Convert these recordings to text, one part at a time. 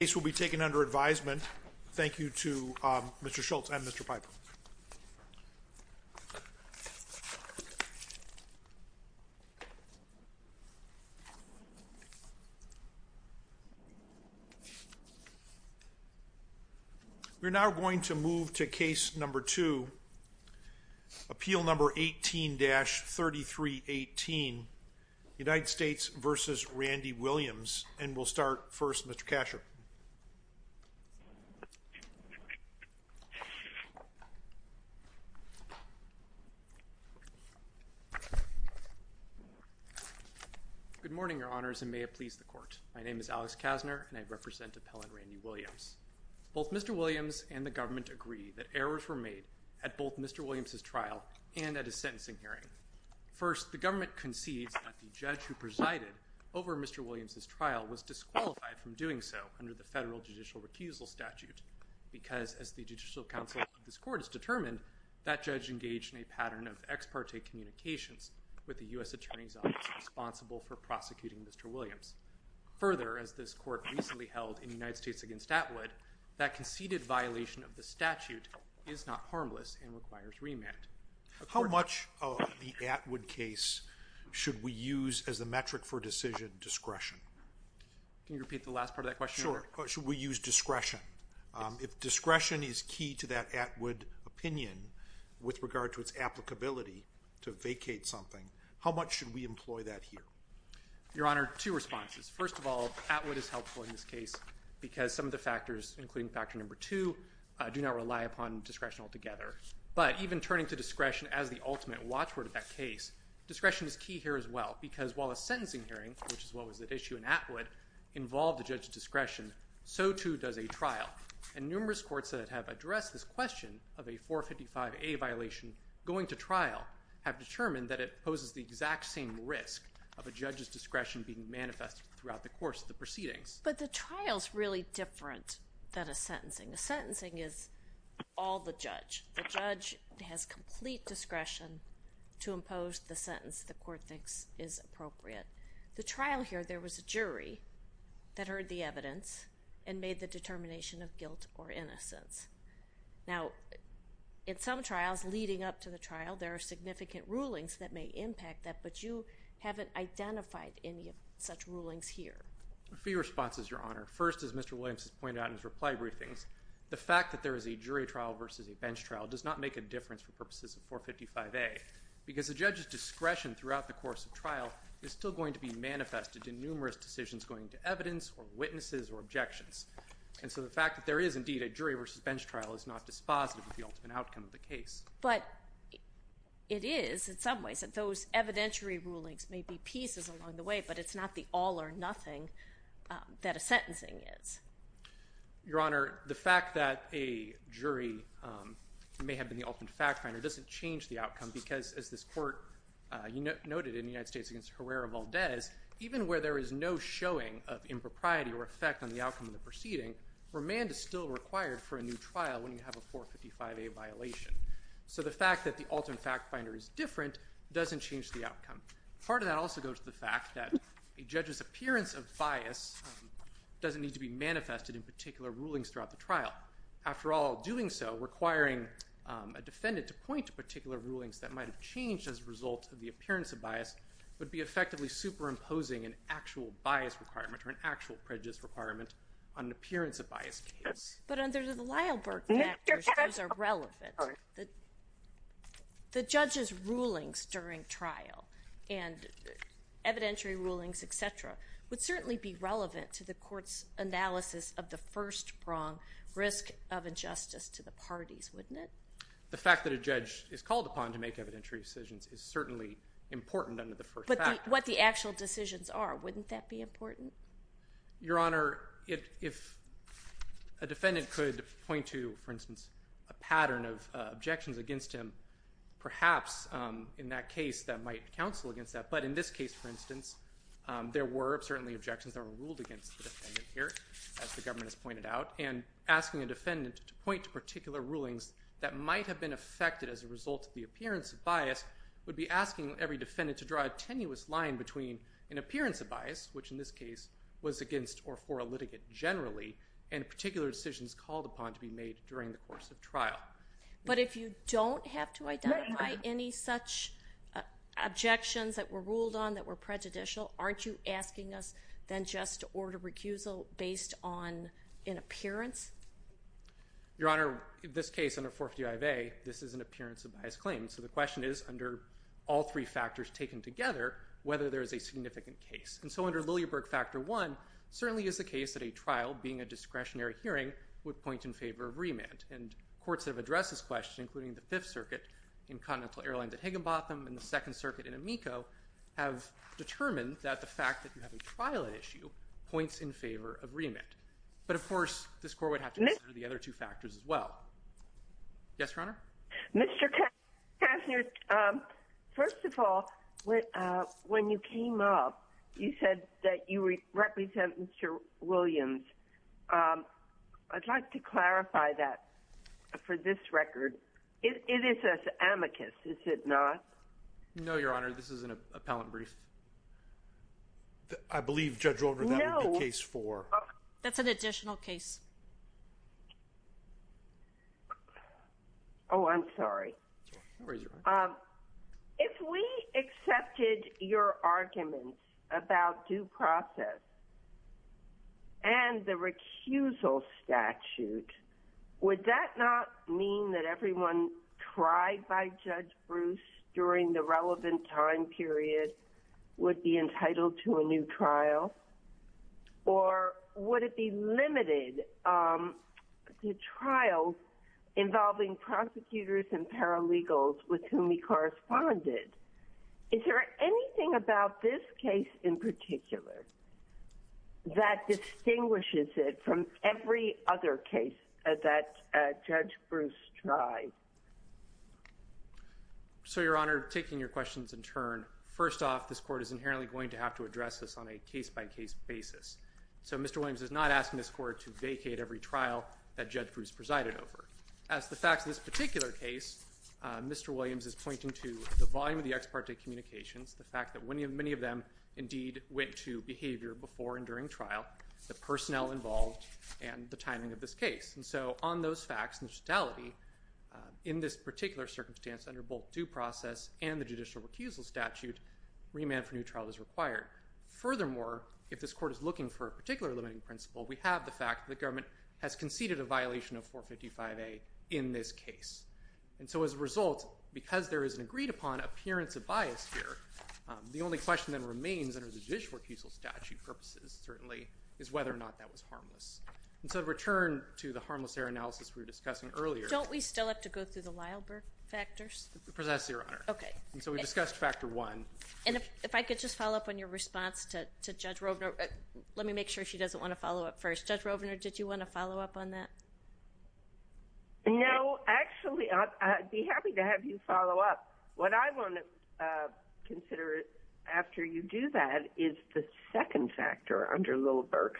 The case will be taken under advisement. Thank you to Mr. Schultz and Mr. Piper. We're now going to move to Case No. 2, Appeal No. 18-3318, United States v. Randy Williams, and we'll start first with Mr. Kasher. Good morning, Your Honors, and may it please the Court. My name is Alex Kasner, and I represent Appellant Randy Williams. Both Mr. Williams and the government agree that errors were made at both Mr. Williams's trial and at his sentencing hearing. First, the government concedes that the judge who presided over Mr. Williams's trial was disqualified from doing so under the federal judicial recusal statute because, as the Judicial Council of this Court has determined, that judge engaged in a pattern of ex parte communications with the U.S. Attorney's Office responsible for prosecuting Mr. Williams. Further, as this Court recently held in United States v. Atwood, that conceded violation of the statute is not harmless and requires remand. How much of the Atwood case should we use as the metric for decision discretion? Can you repeat the last part of that question? Sure. Should we use discretion? If discretion is key to that Atwood opinion with regard to its applicability to vacate something, how much should we employ that here? Your Honor, two responses. First of all, Atwood is helpful in this case because some of the factors, including Factor No. 2, do not rely upon discretion altogether. But even turning to discretion as the ultimate watchword of that case, discretion is key here as well because while a sentencing hearing, which is what was at issue in Atwood, involved a judge's discretion, so too does a trial. And numerous courts that have addressed this question of a 455A violation going to trial have determined that it poses the exact same risk of a judge's discretion being manifested throughout the course of the proceedings. But the trial is really different than a sentencing. A sentencing is all the judge. The judge has complete discretion to impose the sentence the court thinks is appropriate. The trial here, there was a jury that heard the evidence and made the determination of guilt or innocence. Now, in some trials leading up to the trial, there are significant rulings that may impact that, but you haven't identified any of such rulings here. A few responses, Your Honor. First, as Mr. Williams has pointed out in his reply briefings, the fact that there is a jury trial versus a bench trial does not make a difference for purposes of 455A because a judge's discretion throughout the course of trial is still going to be manifested in numerous decisions going to evidence or witnesses or objections. And so the fact that there is indeed a jury versus bench trial is not dispositive of the ultimate outcome of the case. But it is in some ways that those evidentiary rulings may be pieces along the way, but it's not the all or nothing that a sentencing is. Your Honor, the fact that a jury may have been the ultimate fact finder doesn't change the outcome because, as this court noted in the United States against Herrera-Valdez, even where there is no showing of impropriety or effect on the outcome of the proceeding, remand is still required for a new trial when you have a 455A violation. So the fact that the ultimate fact finder is different doesn't change the outcome. Part of that also goes to the fact that a judge's appearance of bias doesn't need to be manifested in particular rulings throughout the trial. After all, doing so, requiring a defendant to point to particular rulings that might have changed as a result of the appearance of bias would be effectively superimposing an actual bias requirement or an actual prejudice requirement on an appearance of bias case. But under the Lyell-Burke Act, those are relevant. The judge's rulings during trial and evidentiary rulings, et cetera, would certainly be relevant to the court's analysis of the first prong risk of injustice to the parties, wouldn't it? The fact that a judge is called upon to make evidentiary decisions is certainly important under the first act. But what the actual decisions are, wouldn't that be important? Your Honor, if a defendant could point to, for instance, a pattern of objections against him, perhaps in that case that might counsel against that. But in this case, for instance, there were certainly objections that were ruled against the defendant here, as the government has pointed out. And asking a defendant to point to particular rulings that might have been affected as a result of the appearance of bias, which in this case was against or for a litigant generally, and particular decisions called upon to be made during the course of trial. But if you don't have to identify any such objections that were ruled on that were prejudicial, aren't you asking us then just to order recusal based on an appearance? Your Honor, in this case, under 455A, this is an issue under all three factors taken together, whether there is a significant case. And so under Lillieburg Factor I, certainly is the case that a trial being a discretionary hearing would point in favor of remand. And courts have addressed this question, including the Fifth Circuit in Continental Airlines at Higginbotham and the Second Circuit in Amico, have determined that the fact that you have a trial issue points in favor of remand. But of course, this court would have to consider the other two factors as well. Yes, Your Honor? Mr. Kastner, first of all, when you came up, you said that you represent Mr. Williams. I'd like to clarify that for this record. It is an amicus, is it not? No, Your Honor. This is an appellant brief. I believe Judge Overland, that would be case four. That's an additional case. Oh, I'm sorry. If we accepted your arguments about due process and the recusal statute, would that not mean that everyone tried by Judge Bruce during the relevant time period would be entitled to a new trial? Or would it be limited to trials involving prosecutors and paralegals with whom he corresponded? Is there anything about this case in particular that distinguishes it from every other case that Judge Bruce tried? So, Your Honor, taking your questions in turn, first off, this court is inherently going to have to address this on a case-by-case basis. So Mr. Williams is not asking this court to vacate every trial that Judge Bruce presided over. As the facts of this particular case, Mr. Williams is pointing to the volume of the ex parte communications, the fact that many of them indeed went to behavior before and during trial, the personnel involved, and the timing of this case. And so on those facts and the totality, in this particular circumstance, under both due process and the judicial recusal statute, remand for new trial is required. Furthermore, if this court is looking for a particular limiting principle, we have the fact that the government has conceded a violation of 455A in this case. And so as a result, because there is an agreed upon appearance of bias here, the only question that remains under the judicial recusal statute purposes, certainly, is whether or not that was harmless. And so to return to the harmless error analysis we were discussing earlier. Don't we still have to go through the Lileberg factors? Precisely, Your Honor. Okay. And so we've discussed factor one. And if I could just follow up on your response to Judge Rovner. Let me make sure she doesn't want to follow up first. Judge Rovner, did you want to follow up on that? No. Actually, I'd be happy to have you follow up. What I want to consider after you do that is the second factor under Lileberg.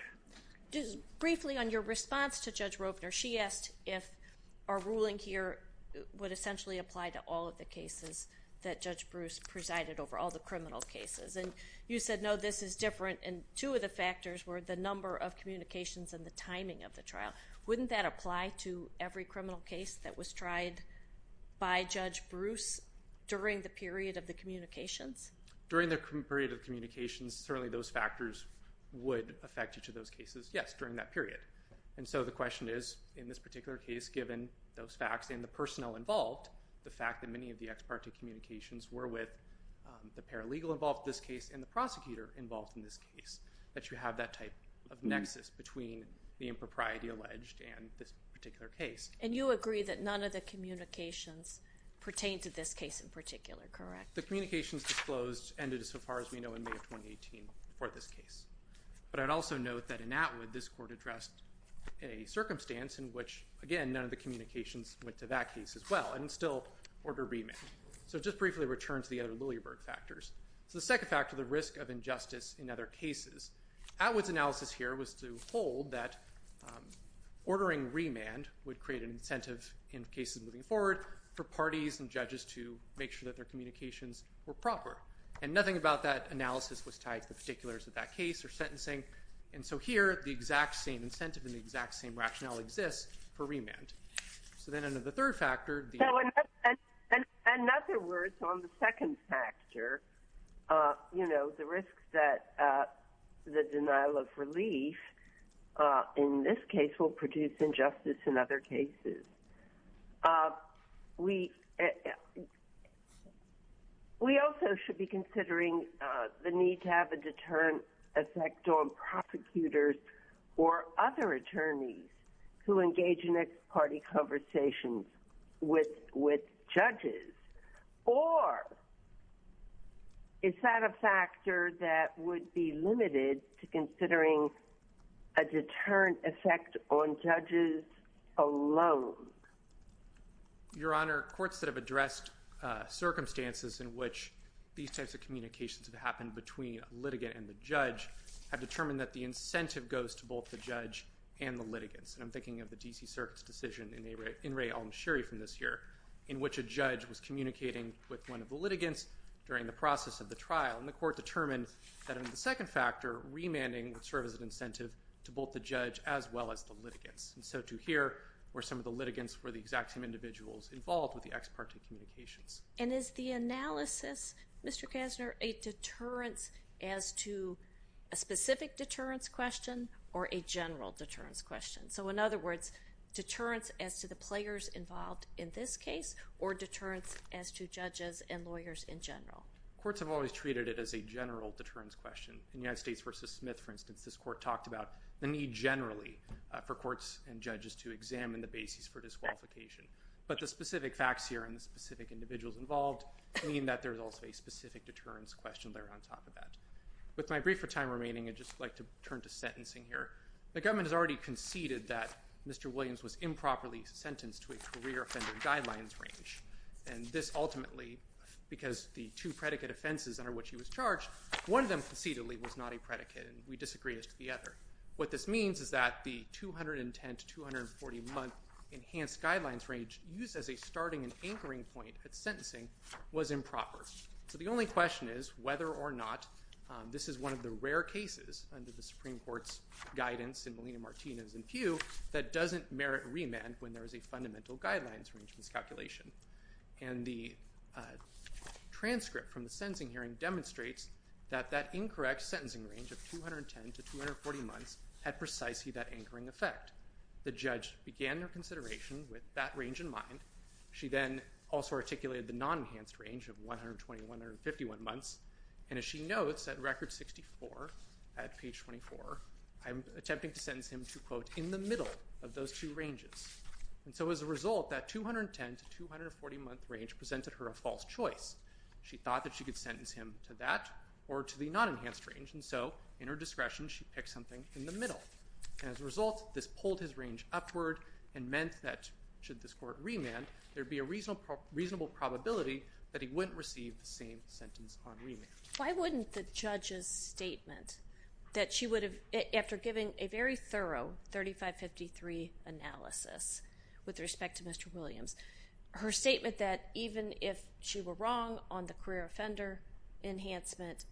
Briefly on your response to Judge Rovner, she asked if our ruling here would essentially apply to all of the cases that Judge Bruce presided over, all the criminal cases. And you said, no, this is different. And two of the factors were the number of communications and the timing of the trial. Wouldn't that apply to every criminal case that was tried by Judge Bruce during the period of the communications? During the period of communications, certainly those factors would affect each of those cases. Yes, during that period. And so the question is in this particular case, given those facts and the personnel involved, the fact that many of the ex parte communications were with the paralegal involved in this case and the prosecutor involved in this case, that you have that type of nexus between the impropriety alleged and this particular case. And you agree that none of the communications pertain to this case in particular, correct? The communications disclosed ended as far as we know in May of 2018 for this case. But I'd also note that in Atwood, this court addressed a circumstance in which, again, none of the communications went to that case as well, and still order remand. So just briefly return to the other Lileberg factors. So the second factor, the risk of injustice in other cases. Atwood's analysis here was to hold that ordering remand would create an incentive in cases moving forward for parties and judges to make sure that their communications were proper. And nothing about that analysis was tied to the particulars of that case or sentencing. And so here, the exact same incentive and the exact same rationale exists for remand. So then under the third factor... In other words, on the second factor, the risks that the denial of relief in this case will produce injustice in other cases. We also should be considering the need to have a deterrent effect on prosecutors or other attorneys who engage in ex parte conversations with judges. Or is that a factor that would be limited to considering a deterrent effect on judges alone? Your Honor, courts that have addressed circumstances in which these types of communications have happened between a litigant and the judge have determined that the incentive goes to both the judge and the litigants. And I'm thinking of the D.C. Circuit's decision in Ray Almsherry from this year, in which a judge was communicating with one of the litigants during the process of the trial. And the court determined that in the second factor, remanding would serve as an incentive to both the judge as well as the litigants. And so to here, where some of the litigants were the exact same individuals involved with the ex parte communications. And is the analysis Mr. Kasner, a deterrence as to a specific deterrence question or a general deterrence question? So in other words, deterrence as to the players involved in this case or deterrence as to judges and lawyers in general? Courts have always treated it as a general deterrence question. In United States v. Smith, for instance, this court talked about the need generally for courts and judges to examine the basis for disqualification. But the specific facts here and the specific individuals involved mean that there's also a specific deterrence question there on top of that. With my brief time remaining, I'd just like to turn to sentencing here. The government has already conceded that Mr. Williams was improperly sentenced to a career offender guidelines range. And this ultimately because the two predicate offenses under which he was charged, one of them precededly was not a predicate and we disagree as to the other. What this means is that the 210 to 240 month enhanced guidelines range used as a starting and anchoring point at sentencing was improper. So the only question is whether or not this is one of the rare cases under the Supreme Court's guidance in Molina-Martinez and Pew that doesn't merit remand when there is a fundamental guidelines range miscalculation. And the transcript from the sentencing hearing demonstrates that that incorrect sentencing range of 210 to 240 months had precisely that anchoring effect. The judge began their consideration with that range in mind. She then also articulated the non-enhanced range of 120 to 151 months. And as she notes at record 64, at page 24, I'm attempting to sentence him to quote, in the middle of those two ranges. And so as a result, that 210 to 240 month range presented her a false choice. She thought that she could sentence him to that or to the non-enhanced range and so in her discretion, she picked something in the middle. And as a result this pulled his range upward and meant that should this court remand there would be a reasonable probability that he wouldn't receive the same sentence on remand. Why wouldn't the judge's statement that she would have, after giving a very thorough 3553 analysis with respect to Mr. Williams, her statement stated that even if she were wrong on the career offender enhancement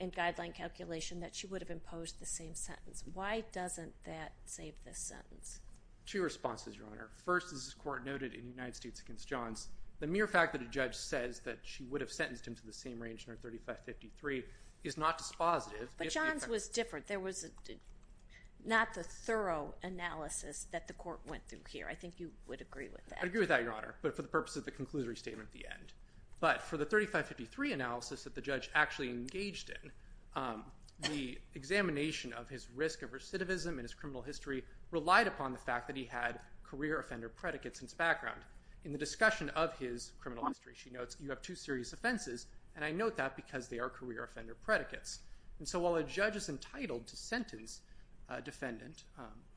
and guideline calculation, that she would have imposed the same sentence. Why doesn't that save this sentence? Two responses, Your Honor. First, as this court noted in United States v. Johns, the mere fact that a judge says that she would have sentenced him to the same range in her 3553 is not dispositive. But Johns was different. There was not the thorough analysis that the court went through here. I think you would agree with that. I agree with that, Your Honor, but for the purpose of the conclusory statement at the end. But for the 3553 analysis that the judge actually engaged in, the examination of his risk of recidivism and his criminal history relied upon the fact that he had career offender predicates in his background. In the discussion of his criminal history, she notes, you have two serious offenses and I note that because they are career offender predicates. And so while a judge is entitled to sentence a defendant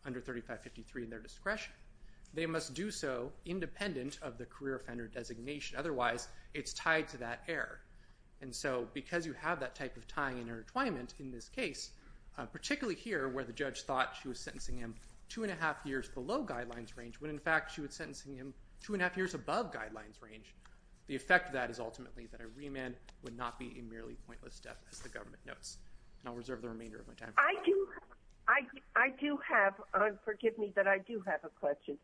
under 3553 in their discretion, they must do so independent of the career offender designation. Otherwise, it's tied to that error. And so because you have that type of tying and intertwinement in this case, particularly here where the judge thought she was sentencing him two and a half years below guidelines range, when in fact she was sentencing him two and a half years above guidelines range, the effect of that is ultimately that a remand would not be a merely pointless step, as the government notes. And I'll reserve the remainder of my time. I do have, forgive me, but I do have a question.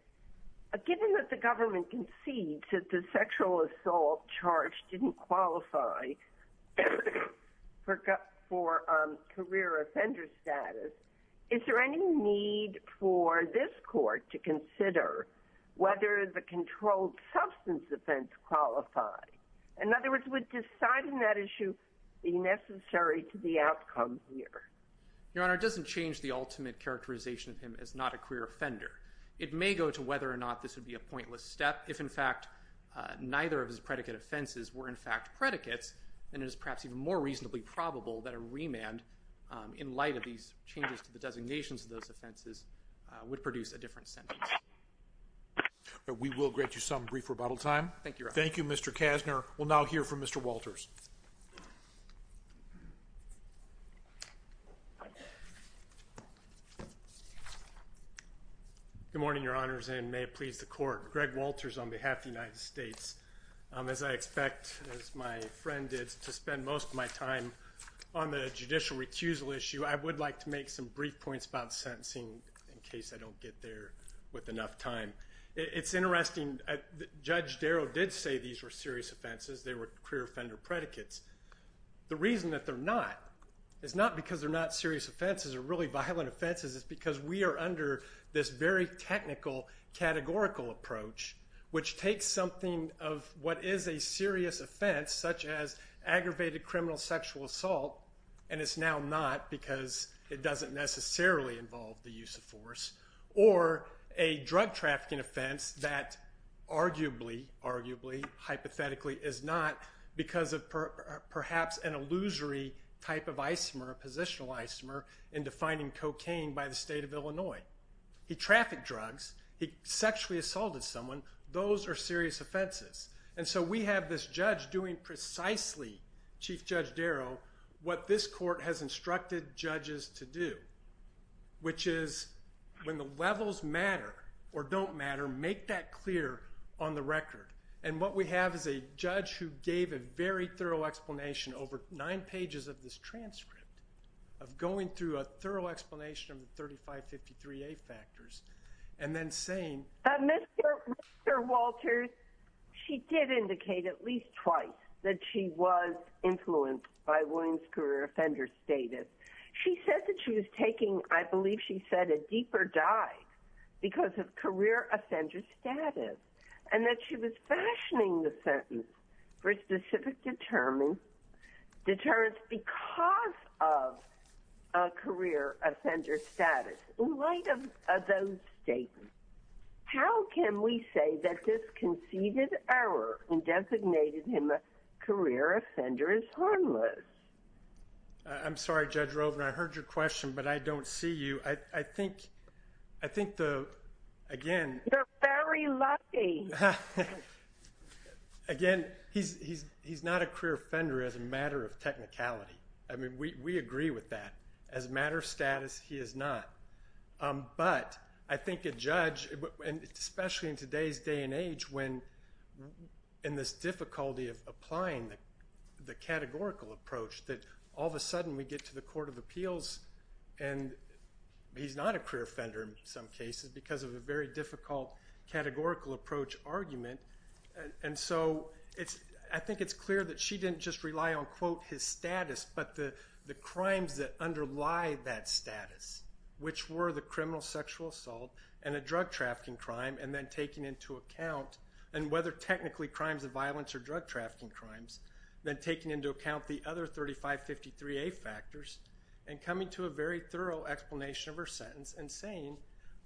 Given that the government concedes that the sexual assault charge didn't qualify for career offender status, is there any need for this court to consider whether the controlled substance offense qualified? In other words, would deciding that issue be necessary to the outcome here? Your Honor, it doesn't change the ultimate characterization of him as not a career offender. It may go to whether or not this would be a pointless step. If in fact neither of his predicate offenses were in fact predicates, then it is perhaps even more reasonably probable that a remand in light of these changes to the designations of those offenses would produce a different sentence. We will grant you some brief rebuttal time. Thank you, Your Honor. Thank you, Mr. Kasner. We'll now hear from Mr. Walters. Good morning, Your Honor, and may it please the court. Greg Walters on behalf of the United States. As I expect, as my friend did, to spend most of my time on the judicial recusal issue, I would like to make some brief points about sentencing in case I don't get there with enough time. It's interesting. Judge Darrow did say these were serious offenses. They were career offender predicates. The reason that they're not is not because they're not serious offenses or really violent offenses. It's because we are under this very technical, categorical approach which takes something of what is a serious offense such as aggravated criminal sexual assault, and it's now not because it doesn't necessarily involve the use of force or a drug trafficking offense that arguably hypothetically is not because of perhaps an illusory type of isomer, a positional isomer in defining cocaine by the state of Illinois. He trafficked drugs. He sexually assaulted someone. Those are serious offenses. And so we have this judge doing precisely, Chief Judge Darrow, what this court has instructed judges to do which is when the levels matter or don't matter, make that clear on the record. And what we have is a thorough explanation over nine pages of this transcript of going through a thorough explanation of the 3553A factors and then saying... Mr. Walters, she did indicate at least twice that she was influenced by Williams' career offender status. She said that she was taking I believe she said a deeper dive because of career offender status and that she was fashioning the sentence for specific deterrence because of a career offender status. In light of those statements, how can we say that this conceded error in designating him a career offender is harmless? I'm sorry, Judge Rovner. I heard your question, but I don't see you. I think the, again... You're very lucky. Again, he's not a career offender as a matter of technicality. I mean, we agree with that. As a matter of status, he is not. But, I think a judge, especially in today's day and age when in this difficulty of applying the categorical approach that all of a sudden we get to the Court of Appeals and he's not a career offender in some cases because of a very difficult categorical approach argument. I think it's clear that she didn't just rely on, quote, his status, but the crimes that underlie that status, which were the criminal sexual assault and a drug trafficking crime and then taking into account and whether technically crimes of violence or drug trafficking crimes then taking into account the other 3553A factors and coming to a very thorough explanation of her sentence and saying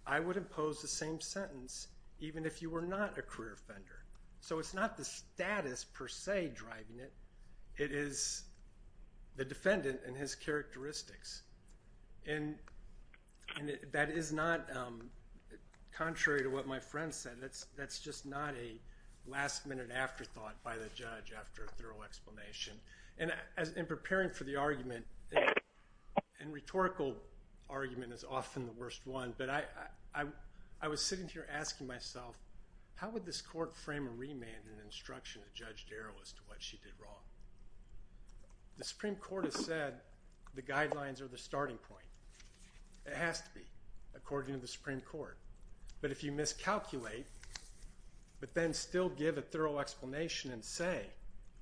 I would impose the same sentence even if you were not a career offender. So it's not the status, per se, driving it. It is the defendant and his characteristics. And that is not contrary to what my friend said. That's just not a last minute afterthought by the judge after a thorough explanation. In preparing for the argument, and rhetorical argument is often the worst one, but I was sitting here asking myself, how would this court frame a remand in instruction to Judge Darrell as to what she did wrong? The Supreme Court has said the guidelines are the starting point. It has to be according to the Supreme Court. But if you miscalculate but then still give a thorough explanation and say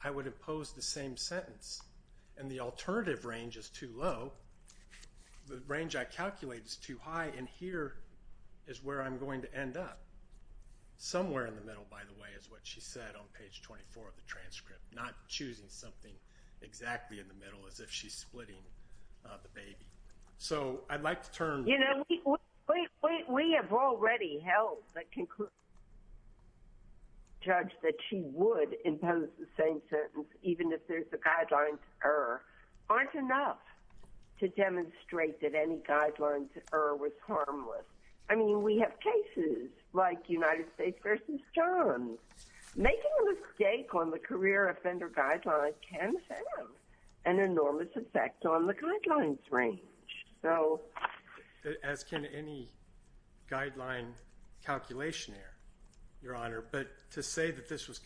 I would impose the same sentence and the alternative range is too low the range I calculate is too high and here is where I'm going to end up. Somewhere in the middle, by the way, is what she said on page 24 of the transcript. Not choosing something exactly in the middle as if she's splitting the baby. So I'd like to turn... You know, we have already held that conclusion that she would impose the same sentence even if there's a guidelines error, aren't enough to demonstrate that any guidelines error was harmless. I mean, we have cases like United States v. Johns making a mistake on the career offender guidelines can have an enormous effect on the guidelines range. As can any guideline calculation error, Your Honor. But to say that this was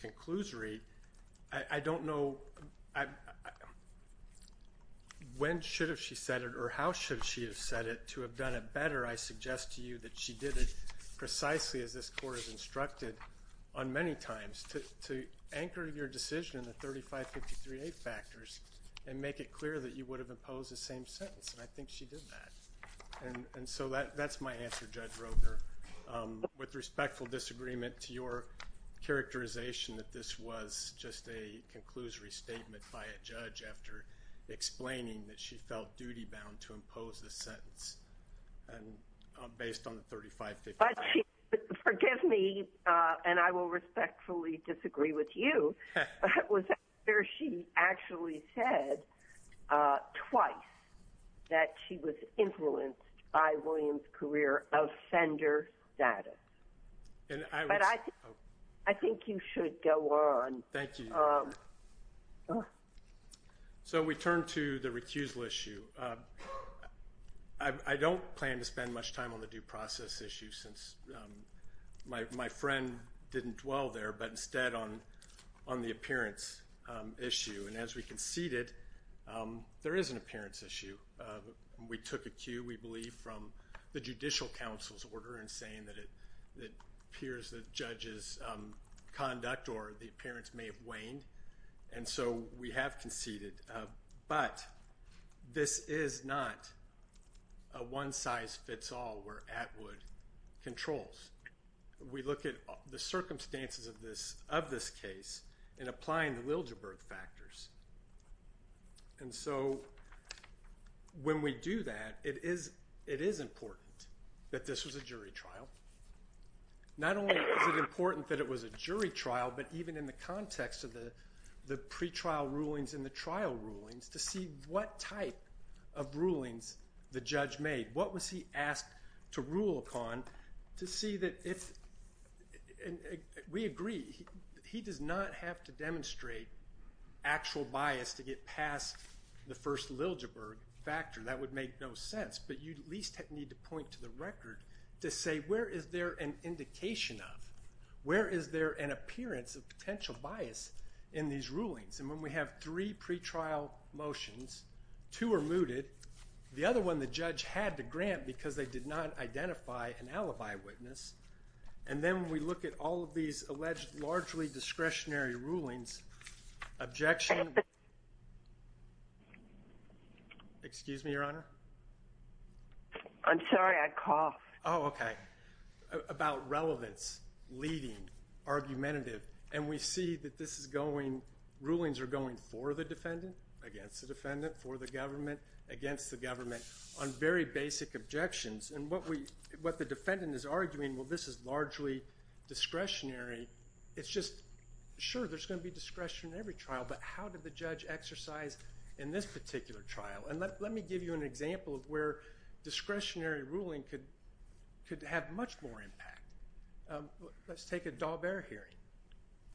When should have she said it or how should she have said it to have done it better, I suggest to you that she did it precisely as this Court has instructed on many times to anchor your decision in the 3553A factors and make it clear that you would have imposed the same sentence. And I think she did that. And so that's my answer, Judge Roedner. With respectful disagreement to your characterization that this was just a conclusory statement by a judge after explaining that she felt duty-bound to impose the sentence based on the 3553A. Forgive me, and I will respectfully disagree with you, but was that where she actually said twice that she was influenced by William's career offender status? I think you should go on. Thank you, Your Honor. So we turn to the recusal issue. I don't plan to spend much time on the due process issue since my friend didn't dwell there, but instead on the appearance issue. And as we conceded, there is an appearance that appears the judge's conduct or the appearance may have waned, and so we have conceded. But this is not a one-size-fits-all where Atwood controls. We look at the circumstances of this case in applying the Liljeburg factors. And so when we do that, it is important that this was a jury trial. Not only is it important that it was a jury trial, but even in the context of the pre-trial rulings and the trial rulings, to see what type of rulings the judge made. What was he asked to rule upon to see that if, and we agree, he does not have to demonstrate actual bias to get past the first Liljeburg factor. That would make no sense. But you at least need to point to the record to say where is there an indication of, where is there an appearance of potential bias in these rulings. And when we have three pre-trial motions, two are mooted, the other one the judge had to grant because they did not identify an alibi witness, and then we look at all of these alleged largely discretionary rulings, objection... I'm sorry, I coughed. Oh, okay. About relevance, leading, argumentative, and we see that this is going, rulings are going for the defendant, against the defendant, for the government, against the government, on very basic objections. And what the defendant is arguing, well this is largely discretionary, it's just, sure there's going to be discretionary trial, but how did the judge exercise in this particular trial? And let me give you an example of where discretionary ruling could have much more impact. Let's take a Daubert hearing,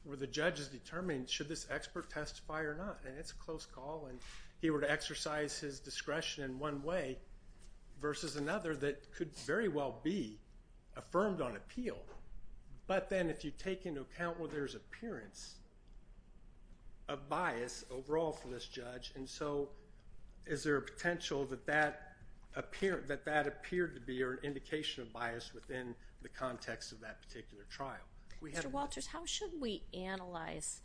where the judge has determined should this expert testify or not? And it's a close call, and he were to exercise his discretion in one way versus another that could very well be affirmed on appeal. But then if you take into account where there's appearance of bias overall for this trial, is there a potential that that appeared to be an indication of bias within the context of that particular trial? Mr. Walters, how should we analyze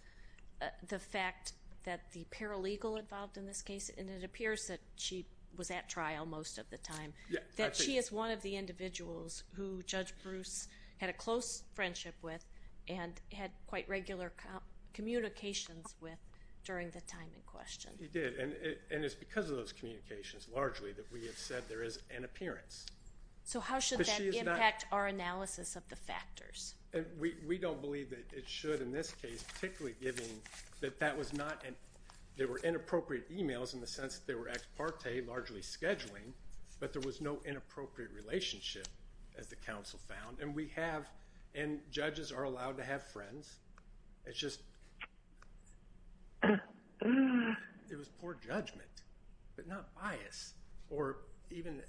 the fact that the paralegal involved in this case, and it appears that she was at trial most of the time, that she is one of the individuals who Judge Bruce had a close friendship with and had quite regular communications with during the time in question? He did, and it's because of those communications, largely, that we have said there is an appearance. So how should that impact our analysis of the factors? We don't believe that it should in this case, particularly given that that was not, there were inappropriate emails in the sense that they were ex parte, largely scheduling, but there was no inappropriate relationship, as the counsel found, and we have, and judges are allowed to have friends, it's just it was poor judgment but not bias, or even...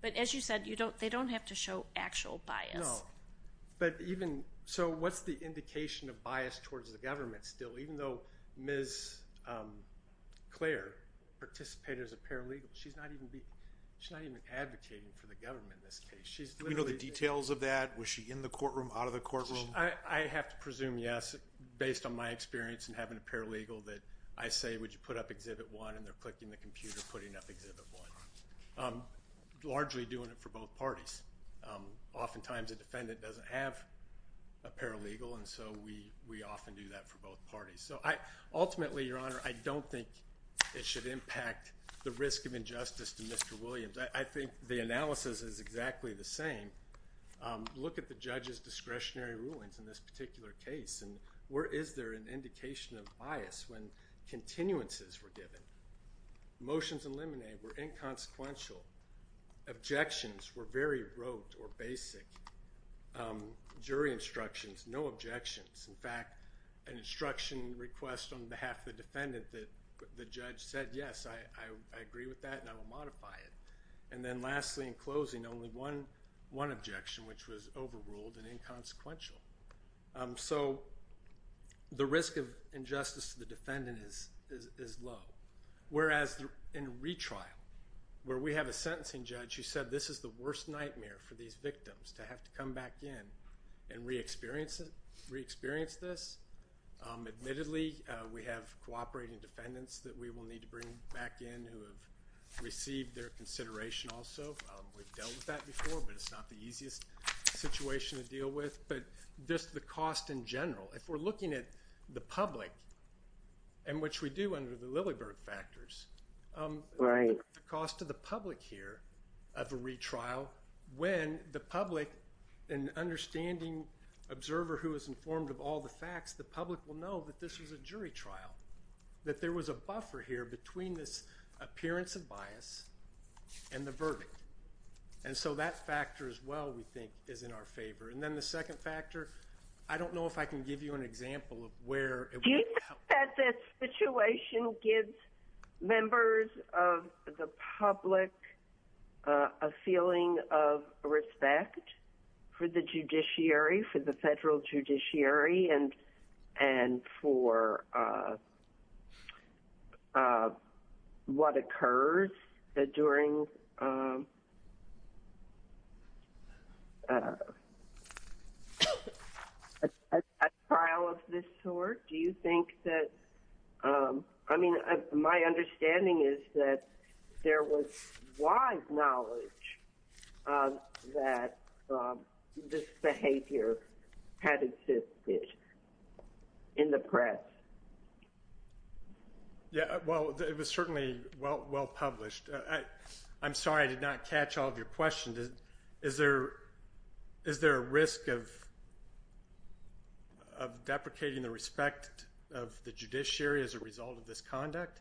But as you said they don't have to show actual bias. No, but even so what's the indication of bias towards the government still, even though Ms. Clare participated as a paralegal she's not even advocating for the government in this case. Do we know the details of that? Was she in the courtroom, out of the courtroom? I have to experience in having a paralegal that I say, would you put up Exhibit 1, and they're clicking the computer, putting up Exhibit 1. Largely doing it for both parties. Oftentimes a defendant doesn't have a paralegal, and so we often do that for both parties. So I ultimately, Your Honor, I don't think it should impact the risk of injustice to Mr. Williams. I think the analysis is exactly the same. Look at the judge's discretionary rulings in this particular case, and where is there an indication of bias when continuances were given? Motions eliminated were inconsequential. Objections were very rote or basic. Jury instructions, no objections. In fact an instruction request on behalf of the defendant that the judge said, yes, I agree with that and I will modify it. And then lastly in closing, only one objection which was overruled and inconsequential. So the risk of injustice to the defendant is low. Whereas in retrial, where we have a sentencing judge who said this is the worst nightmare for these victims to have to come back in and re-experience this. Admittedly, we have cooperating defendants that we will need to bring back in who have received their consideration also. We've dealt with that before, but it's not the cost we're dealing with, but just the cost in general. If we're looking at the public, and which we do under the Lilyberg factors, the cost to the public here of a retrial, when the public in understanding observer who is informed of all the facts, the public will know that this was a jury trial. That there was a buffer here between this appearance of bias and the verdict. And so that factor as well we think is in our favor. And then the second factor, I don't know if I can give you an example of where Do you think that this situation gives members of the public a feeling of respect for the judiciary, for the federal judiciary, and for what occurs during a trial of this sort? Do you think that My understanding is that there was wide knowledge that this behavior had existed in the press. Well, it was certainly well published. I'm sorry I did not catch all of your questions. Is there a risk of deprecating the respect of the judiciary as a result of this conduct?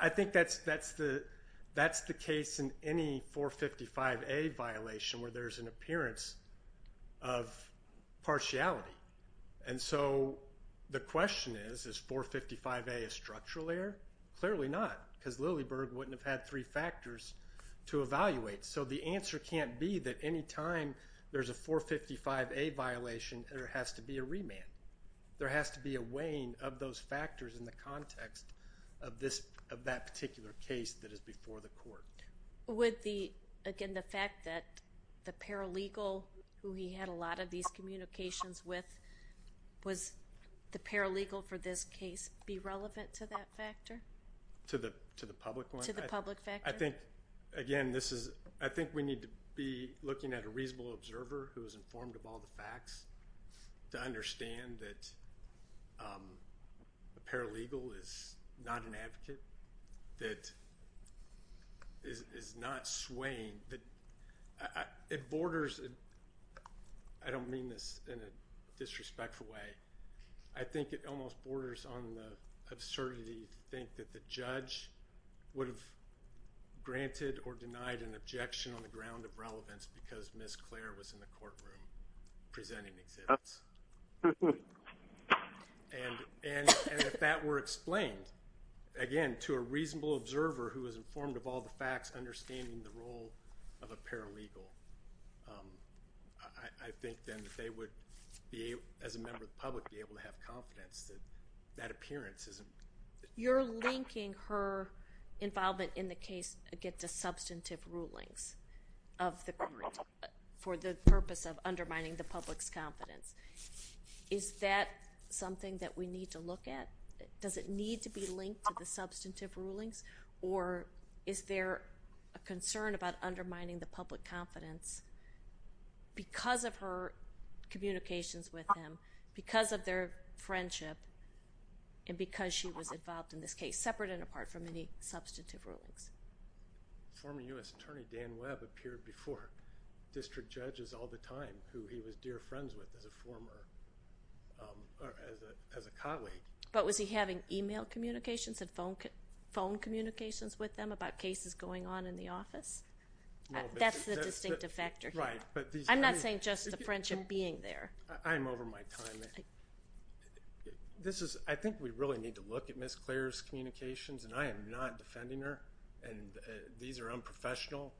I think that's the case in any 455A violation where there's an appearance of So the question is, is 455A a structural error? Clearly not, because Lilleberg wouldn't have had three factors to evaluate. So the answer can't be that any time there's a 455A violation there has to be a remand. There has to be a weighing of those factors in the context of that particular case that is before the court. Would the, again the fact that the paralegal who he had a lot of these communications with, was the paralegal for this case be relevant to that factor? To the public one? I think, again, this is, I think we need to be looking at a reasonable observer who is informed of all the facts to understand that a paralegal is not an advocate, that is not swaying. It borders I don't mean this in a disrespectful way I think it almost borders on the absurdity to think that the judge would have granted or denied an objection on the ground of relevance because Ms. Clare was in the courtroom presenting the exhibits. And if that were explained, again, to a reasonable observer who was informed of all the facts, understanding the role of a paralegal, I think then they would be, as a member of the public, be able to have confidence that that appearance isn't. You're linking her involvement in the case against the substantive rulings of the court for the purpose of undermining the public's confidence. Is that something that we need to look at? Does it need to be linked to the substantive rulings or is there a concern about undermining the public confidence because of her communications with him, because of their friendship, and because she was involved in this case separate and apart from any substantive rulings? Former U.S. Attorney Dan Webb appeared before district judges all the time who he was dear friends with as a former as a colleague. But was he having email communications and phone communications with them about cases going on in the office? That's the distinctive factor here. I'm not saying just the friendship being there. I'm over my time. I think we really need to look at Ms. Clare's communications and I am not defending her. These are unprofessional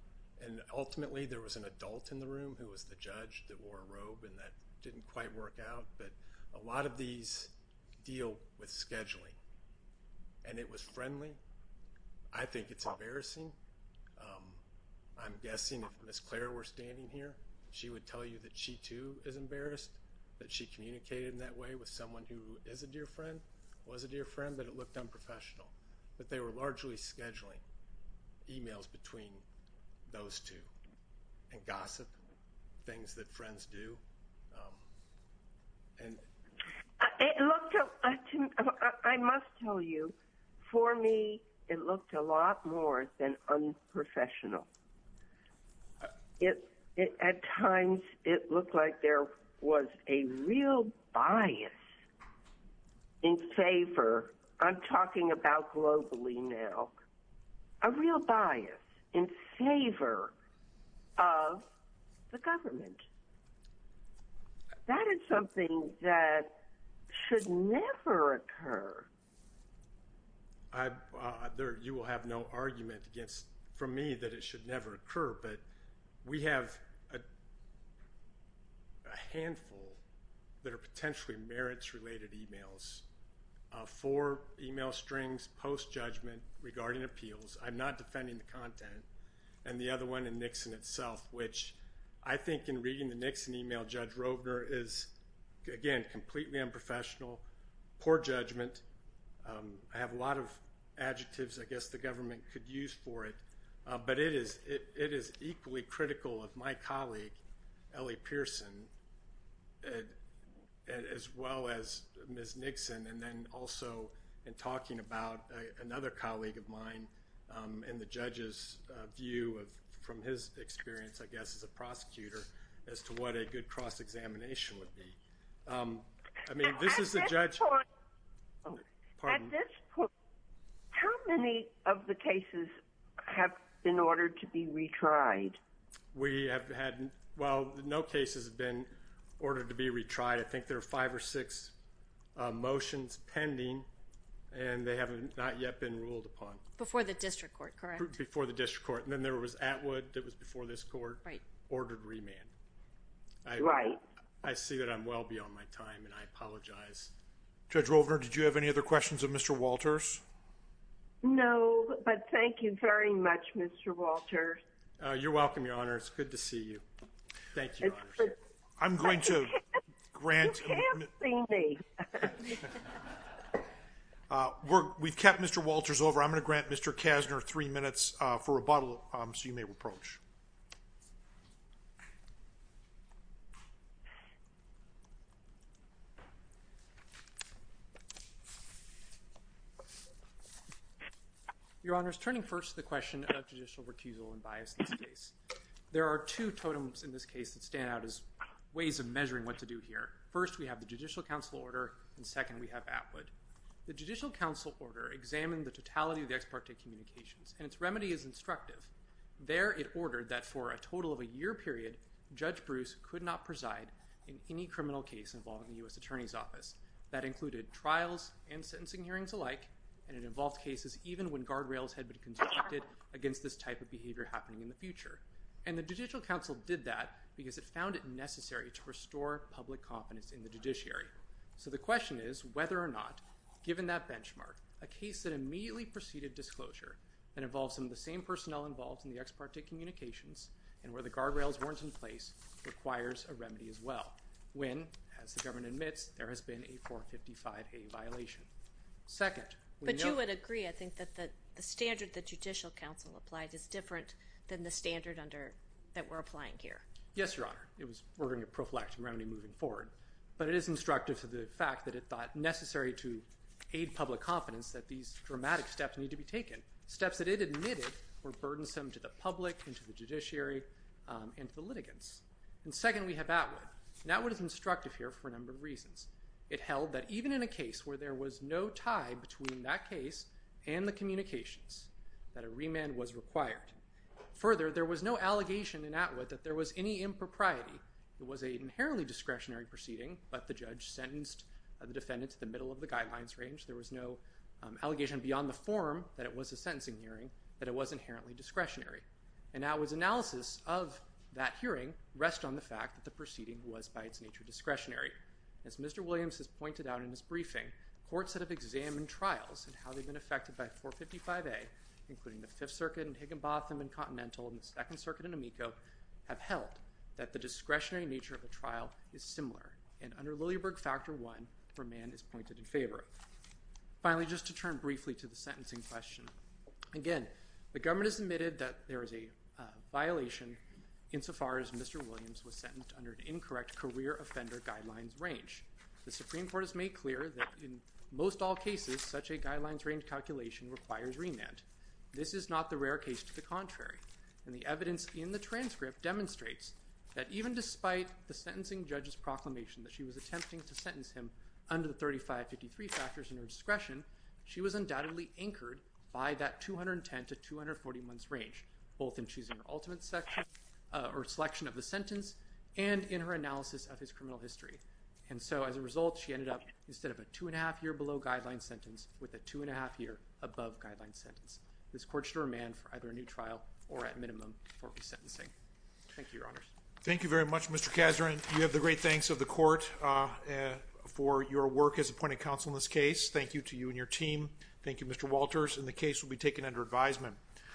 and ultimately there was an adult in the room who was the judge that wore a robe and that didn't quite work out. But a lot of these deal with scheduling. And it was friendly. I think it's embarrassing. I'm guessing if Ms. Clare were standing here she would tell you that she too is embarrassed, that she communicated in that way with someone who is a dear friend, was a dear friend, but it looked unprofessional. But they were largely scheduling emails between those two and gossip, things that friends do. I must tell you for me it looked a lot more than unprofessional. At times it looked like there was a real bias in favor I'm talking about globally now, a real bias in favor of the government. That is something that should never occur. You will have no argument from me that it should never occur. But we have a handful that are potentially merits related emails. Four email strings post-judgment regarding appeals. I'm not defending the content. And the other one in Nixon itself which I think in reading the Nixon email, Judge Rovner is again completely unprofessional, poor judgment. I have a lot of adjectives I guess the government could use for it. But it is equally critical of my colleague Ellie Pearson as well as Ms. Nixon and then also in talking about another colleague of mine and the judge's view from his experience I guess as a prosecutor as to what a good cross-examination would be. At this point, how many of the cases have been ordered to be retried? No cases have been ordered to be retried. I think there are five or six motions pending and they have not yet been ruled upon. Before the district court, correct? Right. I see that I'm well beyond my time and I apologize. Judge Rovner, did you have any other questions of Mr. Walters? No, but thank you very much, Mr. Walters. You're welcome, Your Honor. It's good to see you. You can't see me! We've kept Mr. Walters over. I'm going to grant Mr. Kasner three minutes for rebuttal so you may reproach. Your Honor, turning first to the question of judicial recusal and bias in this case, there are two totems in this case that stand out as ways of measuring what to do here. First, we have the Judicial Council Order and second, we have Atwood. The Judicial Council Order examined the totality of the ex parte communications and its remedy is instructive. There, it ordered that for a total of a year period, Judge Bruce could not preside in any criminal case involving the U.S. Attorney's Office. That included trials and sentencing hearings alike and it involved cases even when guardrails had been constructed against this type of behavior happening in the future. And the Judicial Council did that because it found it So the question is whether or not, given that benchmark, a case that immediately preceded disclosure that involves some of the same personnel involved in the ex parte communications and where the guardrails weren't in place requires a remedy as well when, as the government admits, there has been a 455A violation. But you would agree, I think, that the standard that Judicial Council applied is different It was ordering a prophylactic remedy moving forward. But it is instructive to the fact that it thought necessary to aid public confidence that these dramatic steps need to be taken. Steps that it admitted were burdensome to the public and to the judiciary and to the litigants. And second, we have Atwood. And Atwood is instructive here for a number of reasons. It held that even in a case where there was no tie between that case and the communications that a remand was required. Further, there was no allegation in Atwood that there was any impropriety. It was an inherently discretionary proceeding but the judge sentenced the defendant to the middle of the guidelines range. There was no allegation beyond the form that it was a sentencing hearing that it was inherently discretionary. And Atwood's analysis of that hearing rests on the fact that the proceeding was, by its nature, discretionary. As Mr. Williams has pointed out in his briefing, courts that have examined trials and how they've been affected by 455A, including the Fifth Circuit and Higginbotham and Continental, and the Second Circuit and Amico, have held that the discretionary nature of a trial is similar. And under Lilleberg Factor I, remand is pointed in favor of. Finally, just to turn briefly to the sentencing question. Again, the government has admitted that there is a violation insofar as Mr. Williams was sentenced under an incorrect career offender guidelines range. The Supreme Court has made clear that in most all cases, such a guidelines range calculation requires remand. This is not the rare case to the contrary. And the evidence in the transcript demonstrates that even despite the sentencing judge's proclamation that she was attempting to sentence him under the 3553 factors in her discretion, she was undoubtedly anchored by that 210-240 months range, both in choosing her ultimate selection of the sentence and in her analysis of his criminal history. And so as a result, she ended up, instead of a two and a half year below guideline sentence, with a two and a half year above guideline sentence. This court should remand for either a new trial or at minimum for resentencing. Thank you, Your Honors. Thank you very much, Mr. Kazarin. You have the great thanks of the court for your work as appointed counsel in this case. Thank you to you and your team. Thank you, Mr. Walters. And the case will be taken under advisement.